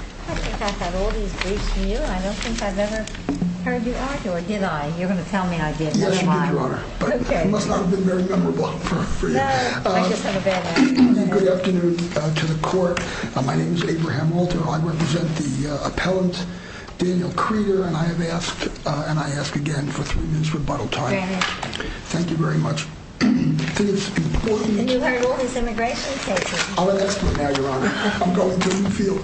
I think I've had all these briefs from you, and I don't think I've ever heard you argue, or did I? You're going to tell me I did. Yes, you did, Your Honor. Okay. It must not have been very memorable for you. No, but I just have a bad memory. Good afternoon to the Court. My name is Abraham Walter. I represent the appellant, Daniel Creter, and I have asked, and I ask again for three minutes rebuttal time. Granted. Thank you very much. And you have all these immigration cases. Now, Your Honor, I'm going to reveal.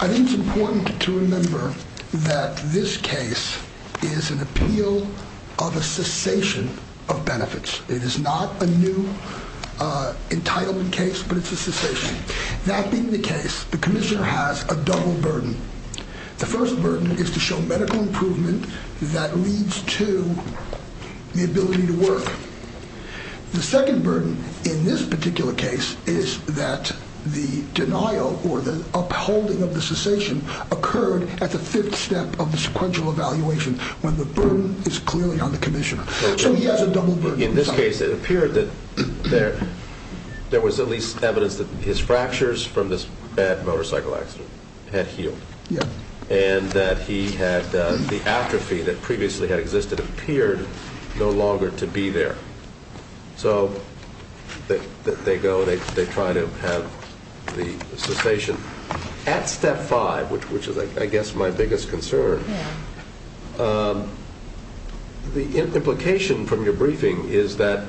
I think it's important to remember that this case is an appeal of a cessation of benefits. It is not a new entitlement case, but it's a cessation. That being the case, the Commissioner has a double burden. The first burden is to show medical improvement that leads to the ability to work. The second burden in this particular case is that the denial or the upholding of the cessation occurred at the fifth step of the sequential evaluation when the burden is clearly on the Commissioner. So he has a double burden. In this case, it appeared that there was at least evidence that his fractures from this bad motorcycle accident had healed. Yeah. And that he had the atrophy that previously had existed appeared no longer to be there. So they go, they try to have the cessation at step five, which is, I guess, my biggest concern. The implication from your briefing is that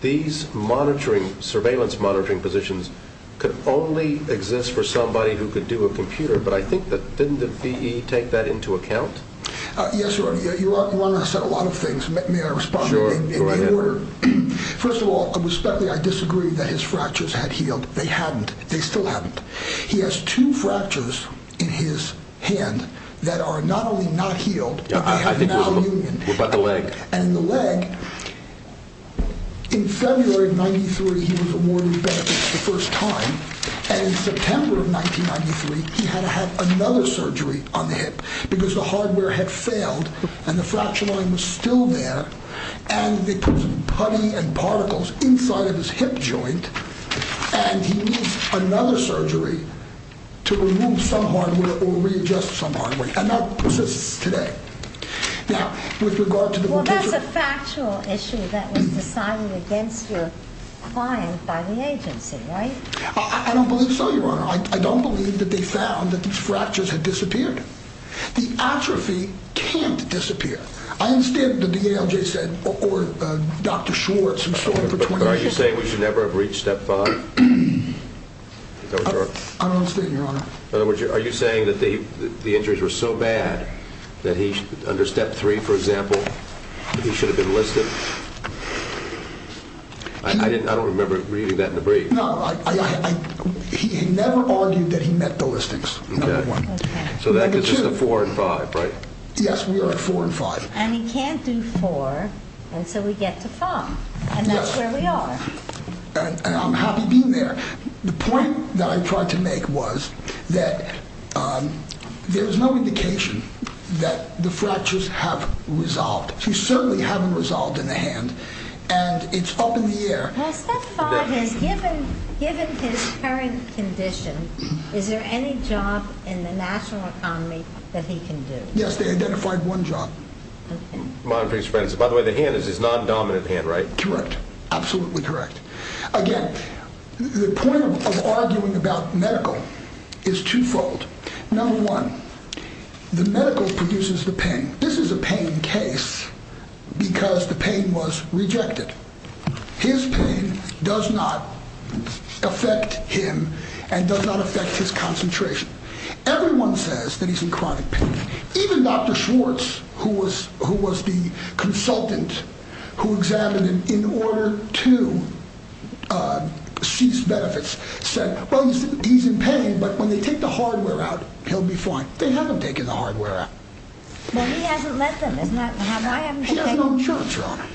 these monitoring, surveillance monitoring positions could only exist for somebody who could do a computer. But I think that didn't the V.E. take that into account? Yes, Your Honor. Your Honor said a lot of things. May I respond? Sure. Go right ahead. First of all, respectfully, I disagree that his fractures had healed. They hadn't. They still haven't. He has two fractures in his hand that are not only not healed, but they have malunion. What about the leg? And in the leg, in February of 93, he was awarded re-benefit for the first time. And in September of 1993, he had to have another surgery on the hip because the hardware had failed and the fracture line was still there. And they put putty and particles inside of his hip joint. And he needs another surgery to remove some hardware or readjust some hardware. And that persists today. Now, with regard to the location... Well, that's a factual issue that was decided against your client by the agency, right? I don't believe so, Your Honor. I don't believe that they found that these fractures had disappeared. The atrophy can't disappear. I understand the DALJ said, or Dr. Schwartz... But are you saying we should never have reached step five? I don't understand, Your Honor. Are you saying that the injuries were so bad that under step three, for example, he should have been listed? I don't remember reading that in the brief. So that gives us the four and five, right? Yes, we are at four and five. And he can't do four, and so we get to five. And that's where we are. And I'm happy being there. The point that I tried to make was that there's no indication that the fractures have resolved. They certainly haven't resolved in the hand, and it's up in the air. Step five is, given his current condition, is there any job in the national economy that he can do? Yes, they identified one job. By the way, the hand is his non-dominant hand, right? Correct. Absolutely correct. Again, the point of arguing about medical is twofold. Number one, the medical produces the pain. This is a pain case because the pain was rejected. His pain does not affect him and does not affect his concentration. Everyone says that he's in chronic pain. Even Dr. Schwartz, who was the consultant who examined him in order to seize benefits, said, well, he's in pain, but when they take the hardware out, he'll be fine. They haven't taken the hardware out. Well, he hasn't let them, has he? He has no choice, Your Honor.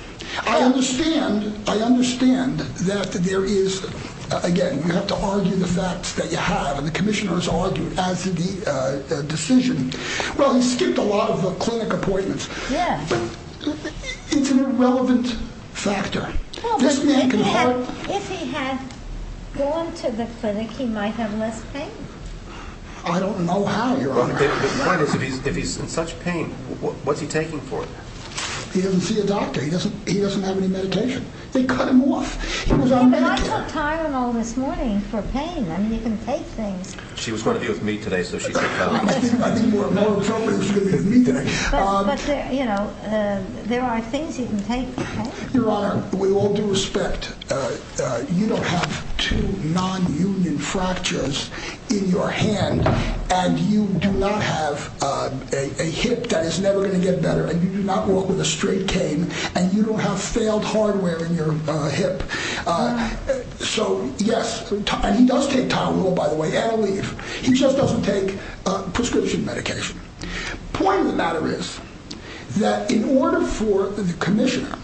I understand that there is, again, you have to argue the facts that you have, and the commissioner has argued as to the decision. Well, he skipped a lot of clinic appointments, but it's an irrelevant factor. If he had gone to the clinic, he might have less pain. I don't know how, Your Honor. The point is, if he's in such pain, what's he taking for it? He doesn't see a doctor. He doesn't have any meditation. They cut him off. He was on medication. But I took Tylenol this morning for pain. I mean, you can take things. She was going to be with me today, so she took Tylenol. I think more appropriately, she was going to be with me today. But, you know, there are things you can take for pain. Your Honor, with all due respect, you don't have two non-union fractures in your hand, and you do not have a hip that is never going to get better, and you do not walk with a straight cane, and you don't have failed hardware in your hip. So, yes, and he does take Tylenol, by the way, and Aleve. He just doesn't take prescription medication. The point of the matter is that in order for the commissioner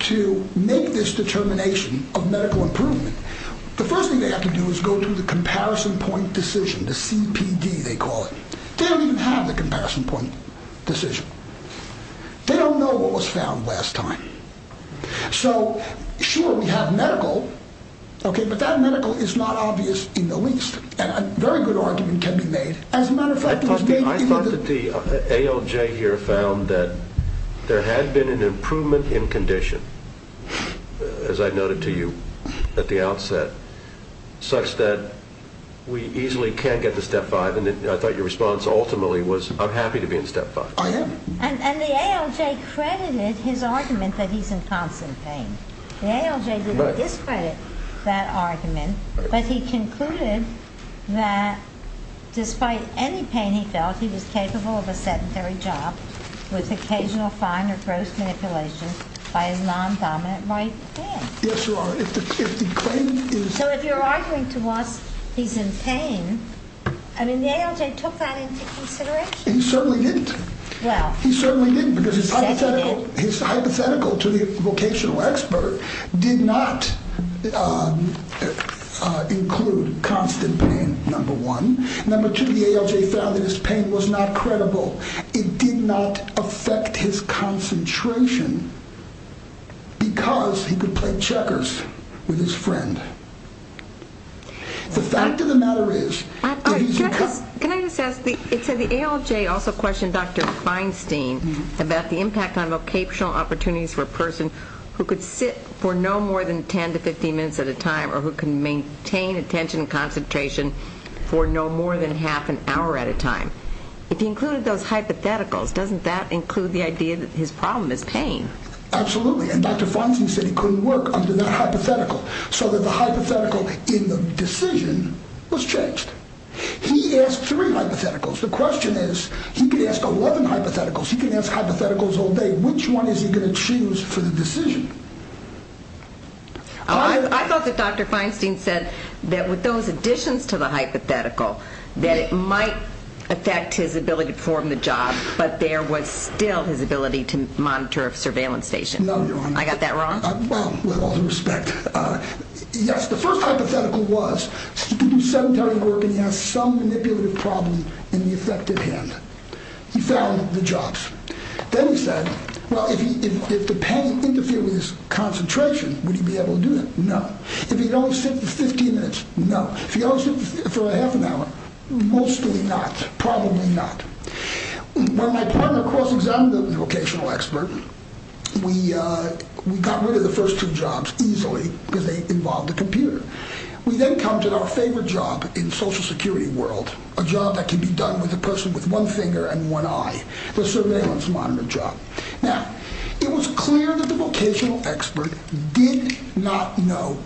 to make this determination of medical improvement, the first thing they have to do is go through the comparison point decision, the CPD, they call it. They don't even have the comparison point decision. They don't know what was found last time. So, sure, we have medical, okay, but that medical is not obvious in the least, and a very good argument can be made. As a matter of fact, it was made in the— I thought that the ALJ here found that there had been an improvement in condition, as I noted to you at the outset, such that we easily can't get to Step 5, and I thought your response ultimately was, I'm happy to be in Step 5. I am. And the ALJ credited his argument that he's in constant pain. The ALJ didn't discredit that argument, but he concluded that despite any pain he felt, he was capable of a sedentary job with occasional fine or gross manipulation by his non-dominant right hand. Yes, Your Honor, if the claim is— So if you're arguing to us he's in pain, I mean, the ALJ took that into consideration. He certainly didn't. Well— He certainly didn't, because his hypothetical to the vocational expert did not include constant pain, number one. Number two, the ALJ found that his pain was not credible. It did not affect his concentration because he could play checkers with his friend. The fact of the matter is— Can I just ask, it said the ALJ also questioned Dr. Feinstein about the impact on vocational opportunities for a person who could sit for no more than 10 to 15 minutes at a time or who can maintain attention and concentration for no more than half an hour at a time. If he included those hypotheticals, doesn't that include the idea that his problem is pain? Absolutely, and Dr. Feinstein said he couldn't work under that hypothetical, so that the hypothetical in the decision was changed. He asked three hypotheticals. The question is, he could ask 11 hypotheticals. He could ask hypotheticals all day. Which one is he going to choose for the decision? I thought that Dr. Feinstein said that with those additions to the hypothetical, that it might affect his ability to perform the job, but there was still his ability to monitor a surveillance station. No, Your Honor. I got that wrong? Well, with all due respect, yes, the first hypothetical was he could do sedentary work and he has some manipulative problem in the effective hand. He found the jobs. Then he said, well, if the pain interfered with his concentration, would he be able to do it? No. If he could only sit for 15 minutes? No. If he could only sit for a half an hour? Mostly not, probably not. When my partner cross-examined the vocational expert, we got rid of the first two jobs easily because they involved the computer. We then come to our favorite job in social security world, a job that can be done with a person with one finger and one eye, the surveillance monitor job. Now, it was clear that the vocational expert did not know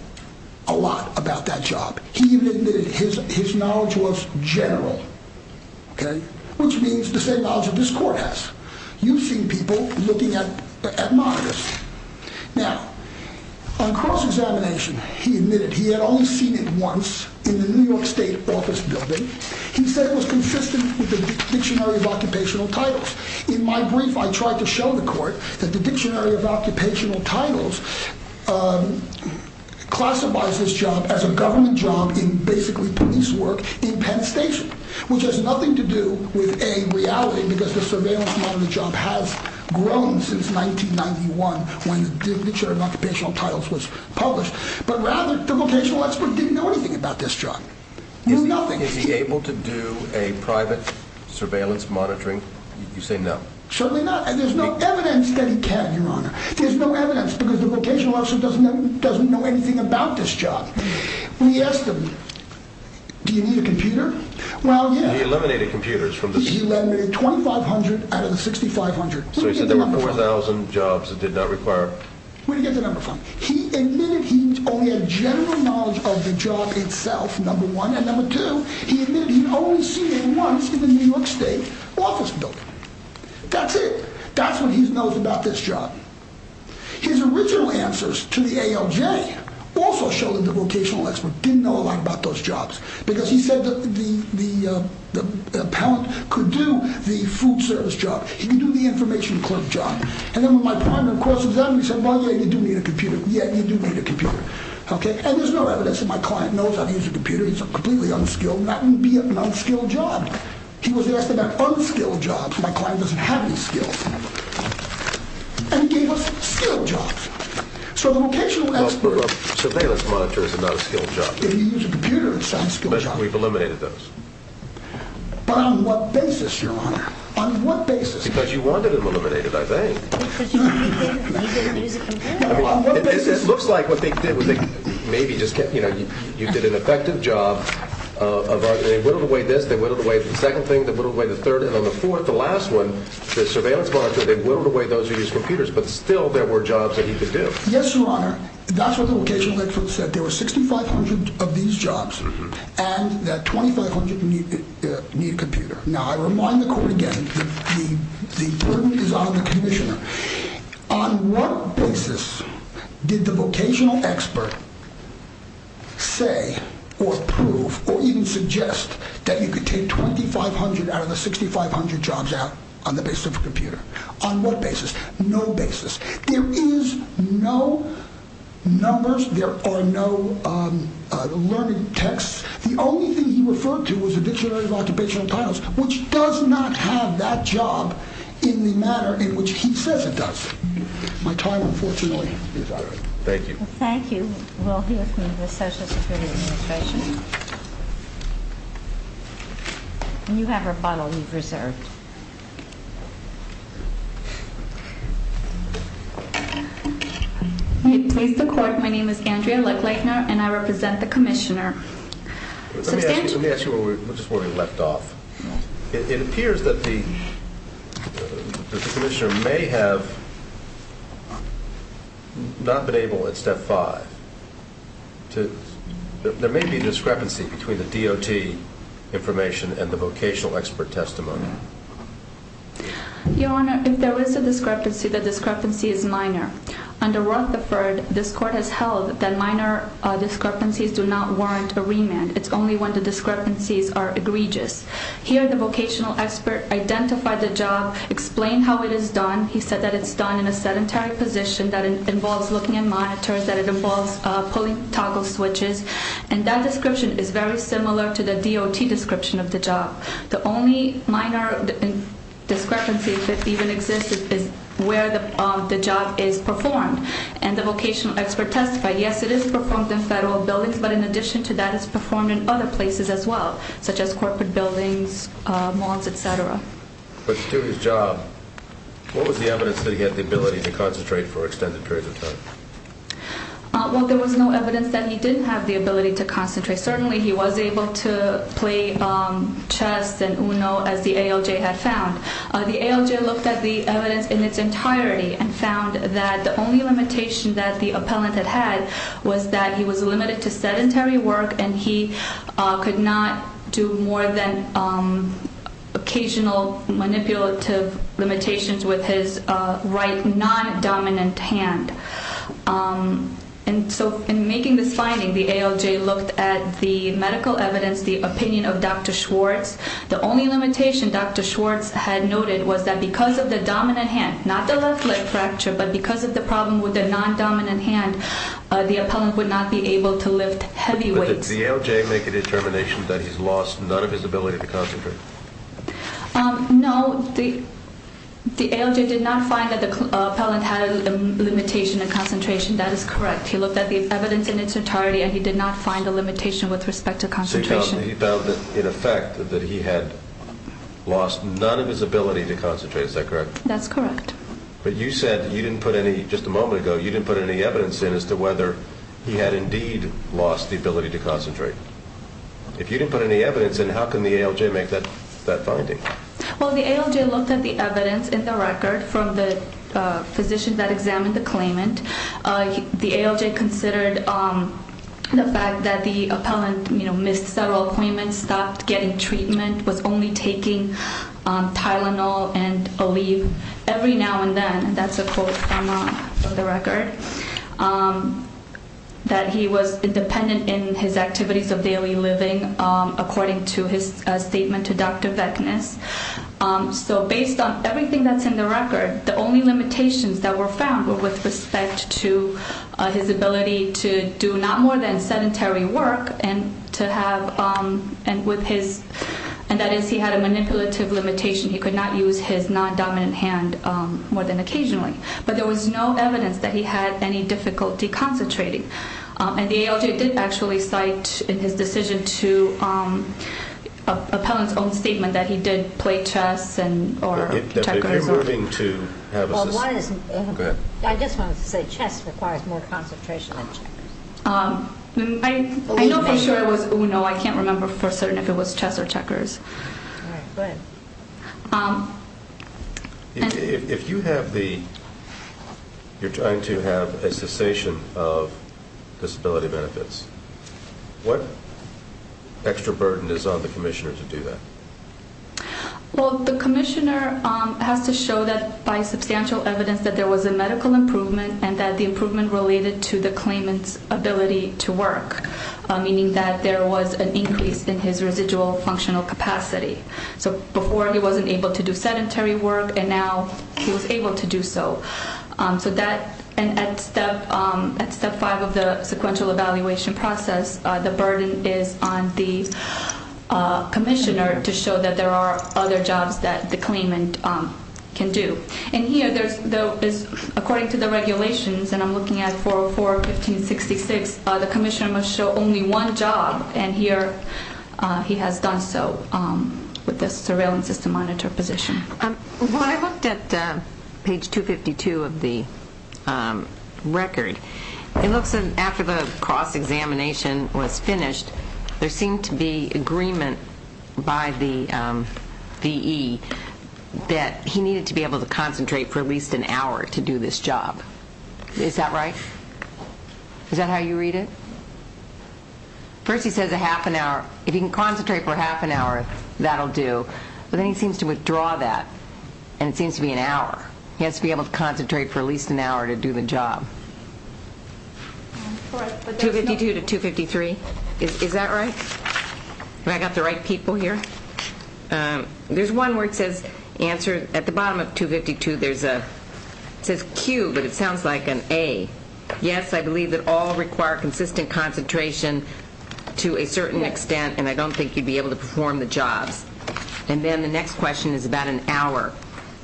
a lot about that job. He even admitted his knowledge was general, which means the same knowledge that this court has. You've seen people looking at monitors. Now, on cross-examination, he admitted he had only seen it once in the New York State office building. He said it was consistent with the dictionary of occupational titles. In my brief, I tried to show the court that the dictionary of occupational titles classifies this job as a government job in basically police work in Penn Station, which has nothing to do with a reality because the surveillance monitor job has grown since 1991 when the dictionary of occupational titles was published. But rather, the vocational expert didn't know anything about this job, knew nothing. Is he able to do a private surveillance monitoring? You say no. Certainly not, and there's no evidence that he can, Your Honor. There's no evidence because the vocational expert doesn't know anything about this job. We asked him, do you need a computer? Well, yeah. He eliminated computers from the... He eliminated 2,500 out of the 6,500. So he said there were 4,000 jobs that did not require... Where did he get the number from? He admitted he only had general knowledge of the job itself, number one, and number two, he admitted he'd only seen it once in the New York State office building. That's it. That's what he knows about this job. His original answers to the ALJ also showed that the vocational expert didn't know a lot about those jobs because he said the appellant could do the food service job. He could do the information clerk job. And then when my partner, of course, examined me, he said, well, yeah, you do need a computer. Yeah, you do need a computer. And there's no evidence that my client knows how to use a computer. He's completely unskilled. That would be an unskilled job. He was asking about unskilled jobs. My client doesn't have any skills. And he gave us skilled jobs. So the vocational expert... Well, surveillance monitors are not a skilled job. Yeah, you use a computer, it's not a skilled job. But we've eliminated those. But on what basis, Your Honor? On what basis? Because you wanted them eliminated, I think. It looks like what they did was they maybe just kept, you know, you did an effective job. They whittled away this, they whittled away the second thing, they whittled away the third, and on the fourth, the last one, the surveillance monitor, they whittled away those who used computers. But still there were jobs that he could do. Yes, Your Honor. That's what the vocational expert said. Now, I remind the court again, the burden is on the commissioner. On what basis did the vocational expert say or prove or even suggest that you could take 2,500 out of the 6,500 jobs out on the basis of a computer? On what basis? No basis. There is no numbers. There are no learning texts. The only thing he referred to was the Dictionary of Occupational Titles, which does not have that job in the manner in which he says it does. My time, unfortunately, is up. Thank you. Thank you. We'll hear from the Social Security Administration. And you have a bottle you've reserved. Please, the court, my name is Andrea Lechlechner, and I represent the commissioner. Let me ask you just where we left off. It appears that the commissioner may have not been able, at step five, there may be a discrepancy between the DOT information and the vocational expert testimony. Your Honor, if there is a discrepancy, the discrepancy is minor. Under Roetheford, this court has held that minor discrepancies do not warrant a remand. It's only when the discrepancies are egregious. Here, the vocational expert identified the job, explained how it is done. He said that it's done in a sedentary position that involves looking at monitors, that it involves pulling toggle switches, and that description is very similar to the DOT description of the job. The only minor discrepancy that even exists is where the job is performed. And the vocational expert testified, yes, it is performed in federal buildings, but in addition to that, it's performed in other places as well, such as corporate buildings, malls, et cetera. But to do his job, what was the evidence that he had the ability to concentrate for extended periods of time? Well, there was no evidence that he didn't have the ability to concentrate. Certainly, he was able to play chess and uno, as the ALJ had found. The ALJ looked at the evidence in its entirety and found that the only limitation that the appellant had had was that he was limited to sedentary work and he could not do more than occasional manipulative limitations with his right non-dominant hand. And so in making this finding, the ALJ looked at the medical evidence, the opinion of Dr. Schwartz. The only limitation Dr. Schwartz had noted was that because of the dominant hand, not the left leg fracture, but because of the problem with the non-dominant hand, the appellant would not be able to lift heavy weights. But did the ALJ make a determination that he's lost none of his ability to concentrate? No. The ALJ did not find that the appellant had a limitation in concentration. That is correct. He looked at the evidence in its entirety and he did not find a limitation with respect to concentration. So he found that, in effect, that he had lost none of his ability to concentrate. Is that correct? That's correct. But you said you didn't put any, just a moment ago, you didn't put any evidence in as to whether he had indeed lost the ability to concentrate. If you didn't put any evidence in, how can the ALJ make that finding? Well, the ALJ looked at the evidence in the record from the physician that examined the claimant. The ALJ considered the fact that the appellant missed several appointments, stopped getting treatment, was only taking Tylenol and Aleve every now and then, and that's a quote from the record, that he was independent in his activities of daily living, according to his statement to Dr. Veknes. So based on everything that's in the record, the only limitations that were found were with respect to his ability to do not more than sedentary work and to have, and with his, and that is he had a manipulative limitation. He could not use his non-dominant hand more than occasionally. But there was no evidence that he had any difficulty concentrating. And the ALJ did actually cite in his decision to appellant's own statement that he did play chess or checkers. But if you're willing to have us, go ahead. I just wanted to say chess requires more concentration than checkers. I know for sure it was uno. I can't remember for certain if it was chess or checkers. All right, go ahead. If you have the, you're trying to have a cessation of disability benefits, what extra burden is on the commissioner to do that? Well, the commissioner has to show that by substantial evidence that there was a medical improvement and that the improvement related to the claimant's ability to work, meaning that there was an increase in his residual functional capacity. So before he wasn't able to do sedentary work, and now he was able to do so. So that, and at step five of the sequential evaluation process, the burden is on the commissioner to show that there are other jobs that the claimant can do. And here there's, according to the regulations, and I'm looking at 404, 1566, the commissioner must show only one job, and here he has done so with the Surveillance System Monitor position. When I looked at page 252 of the record, it looks as if after the cross-examination was finished, there seemed to be agreement by the DE that he needed to be able to concentrate for at least an hour to do this job. Is that right? Is that how you read it? First he says a half an hour. If he can concentrate for half an hour, that'll do. But then he seems to withdraw that, and it seems to be an hour. He has to be able to concentrate for at least an hour to do the job. 252 to 253, is that right? Have I got the right people here? There's one where it says answer. It sounds like an A. Yes, I believe that all require consistent concentration to a certain extent, and I don't think you'd be able to perform the jobs. And then the next question is about an hour,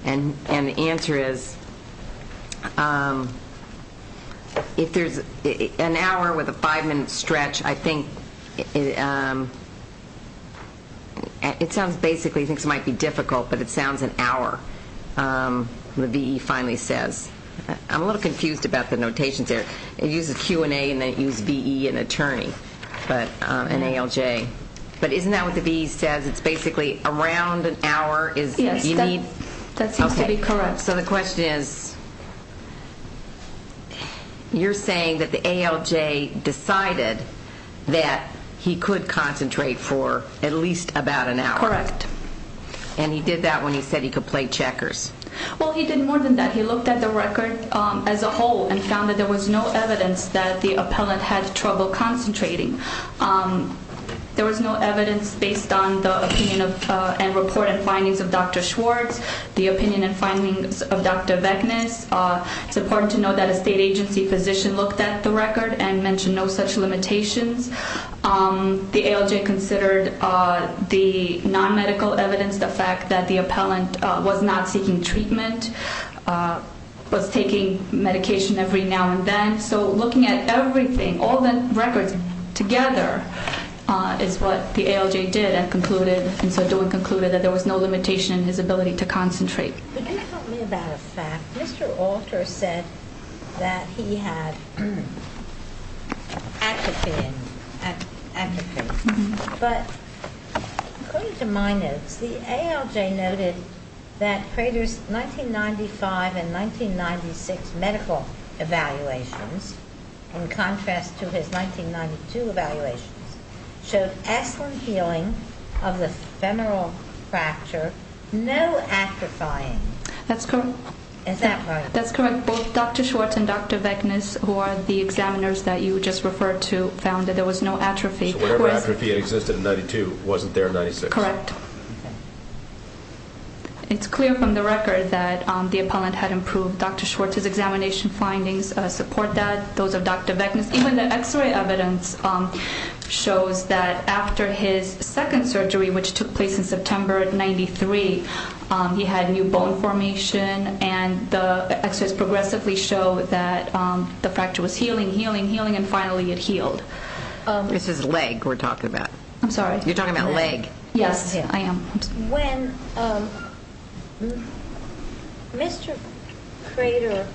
and the answer is if there's an hour with a five-minute stretch, I think it sounds basically, I think it might be difficult, but it sounds an hour, the V.E. finally says. I'm a little confused about the notations there. It uses Q&A and then it uses V.E. and attorney and ALJ. But isn't that what the V.E. says? It's basically around an hour. Yes, that seems to be correct. So the question is you're saying that the ALJ decided that he could concentrate for at least about an hour. Correct. And he did that when he said he could play checkers. Well, he did more than that. He looked at the record as a whole and found that there was no evidence that the appellant had trouble concentrating. There was no evidence based on the opinion and report and findings of Dr. Schwartz. The opinion and findings of Dr. Vecnas. It's important to note that a state agency physician looked at the record and mentioned no such limitations. The ALJ considered the non-medical evidence, the fact that the appellant was not seeking treatment, was taking medication every now and then. So looking at everything, all the records together is what the ALJ did and concluded, that there was no limitation in his ability to concentrate. Could you tell me about a fact? Mr. Alter said that he had atropine. But according to my notes, the ALJ noted that Prater's 1995 and 1996 medical evaluations, in contrast to his 1992 evaluations, showed excellent healing of the femoral fracture, no atrophying. That's correct. Is that right? That's correct. Both Dr. Schwartz and Dr. Vecnas, who are the examiners that you just referred to, found that there was no atrophy. So whatever atrophy existed in 92 wasn't there in 96. Correct. It's clear from the record that the appellant had improved. Dr. Schwartz's examination findings support that. Those of Dr. Vecnas. Even the X-ray evidence shows that after his second surgery, which took place in September of 93, he had new bone formation, and the X-rays progressively show that the fracture was healing, healing, healing, and finally it healed. This is leg we're talking about. I'm sorry? You're talking about leg. Yes, I am. When Mr. Crater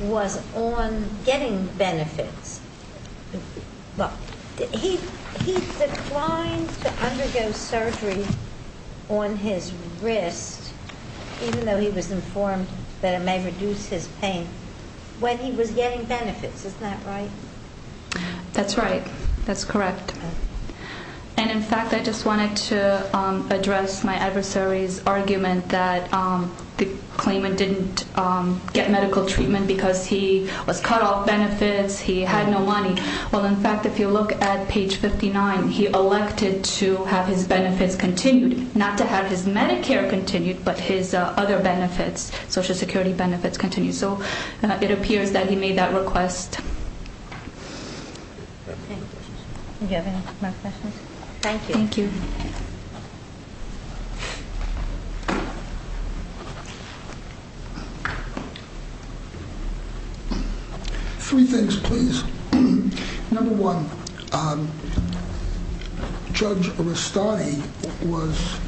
was on getting benefits, he declined to undergo surgery on his wrist, even though he was informed that it may reduce his pain, when he was getting benefits. Isn't that right? That's right. That's correct. And, in fact, I just wanted to address my adversary's argument that the claimant didn't get medical treatment because he was cut off benefits, he had no money. Well, in fact, if you look at page 59, he elected to have his benefits continued, not to have his Medicare continued, but his other benefits, Social Security benefits, continued. So it appears that he made that request. Thank you. Do you have any more questions? Thank you. Thank you. Three things, please. Number one, Judge Restani was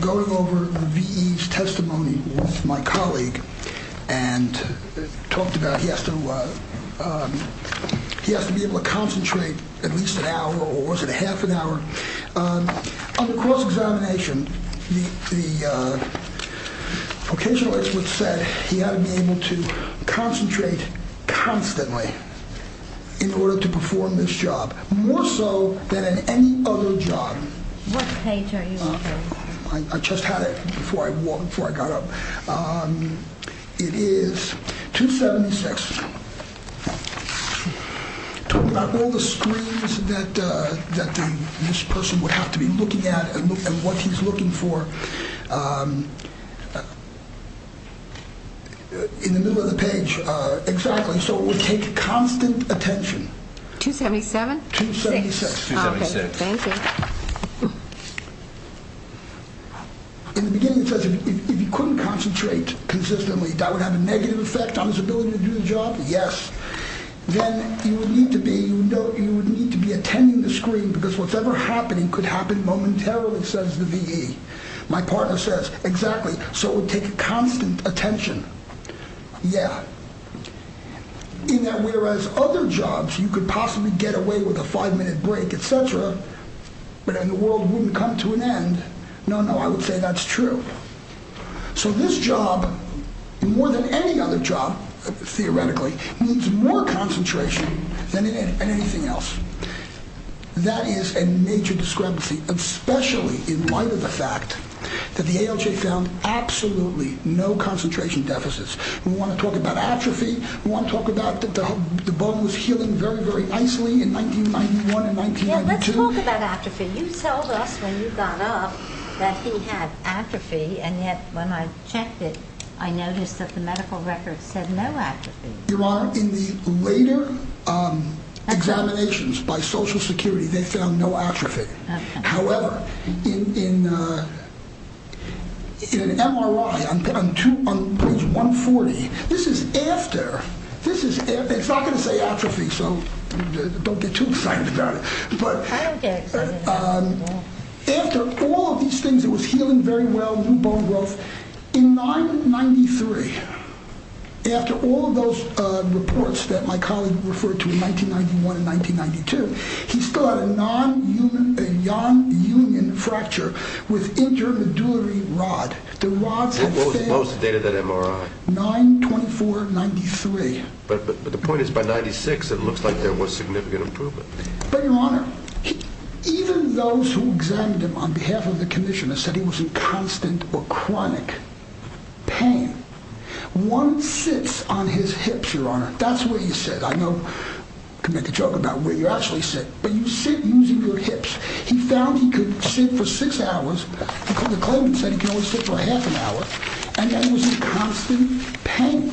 going over the VE's testimony with my colleague and talked about he has to be able to concentrate at least an hour, or was it half an hour? On the cross-examination, the vocational experts said he had to be able to concentrate constantly in order to perform this job, more so than in any other job. What page are you looking at? I just had it before I got up. It is 276. Talking about all the screens that this person would have to be looking at and what he's looking for in the middle of the page. Exactly. So it would take constant attention. 277? 276. Okay. Thank you. In the beginning, it says if he couldn't concentrate consistently, that would have a negative effect on his ability to do the job? Yes. Then you would need to be attending the screen because whatever's happening could happen momentarily, says the VE. My partner says, exactly. So it would take constant attention. Yeah. In that whereas other jobs, you could possibly get away with a five-minute break, et cetera, but then the world wouldn't come to an end. No, no, I would say that's true. So this job, more than any other job, theoretically, needs more concentration than anything else. That is a major discrepancy, especially in light of the fact that the ALJ found absolutely no concentration deficits. We want to talk about atrophy. We want to talk about the bone was healing very, very nicely in 1991 and 1992. Yeah, let's talk about atrophy. You told us when you got up that he had atrophy, and yet when I checked it, I noticed that the medical records said no atrophy. Your Honor, in the later examinations by Social Security, they found no atrophy. However, in an MRI on page 140, this is after. It's not going to say atrophy, so don't get too excited about it. I don't get excited about it at all. After all of these things, it was healing very well, new bone growth. In 1993, after all of those reports that my colleague referred to in 1991 and 1992, he still had a non-union fracture with intermedullary rod. What was the date of that MRI? 9-24-93. But the point is by 96, it looks like there was significant improvement. But, Your Honor, even those who examined him on behalf of the commissioner said he was in constant or chronic pain. One sits on his hips, Your Honor. That's what you said. I know I could make a joke about where you actually sit. But you sit using your hips. He found he could sit for six hours. The claimant said he could only sit for half an hour. And that he was in constant pain.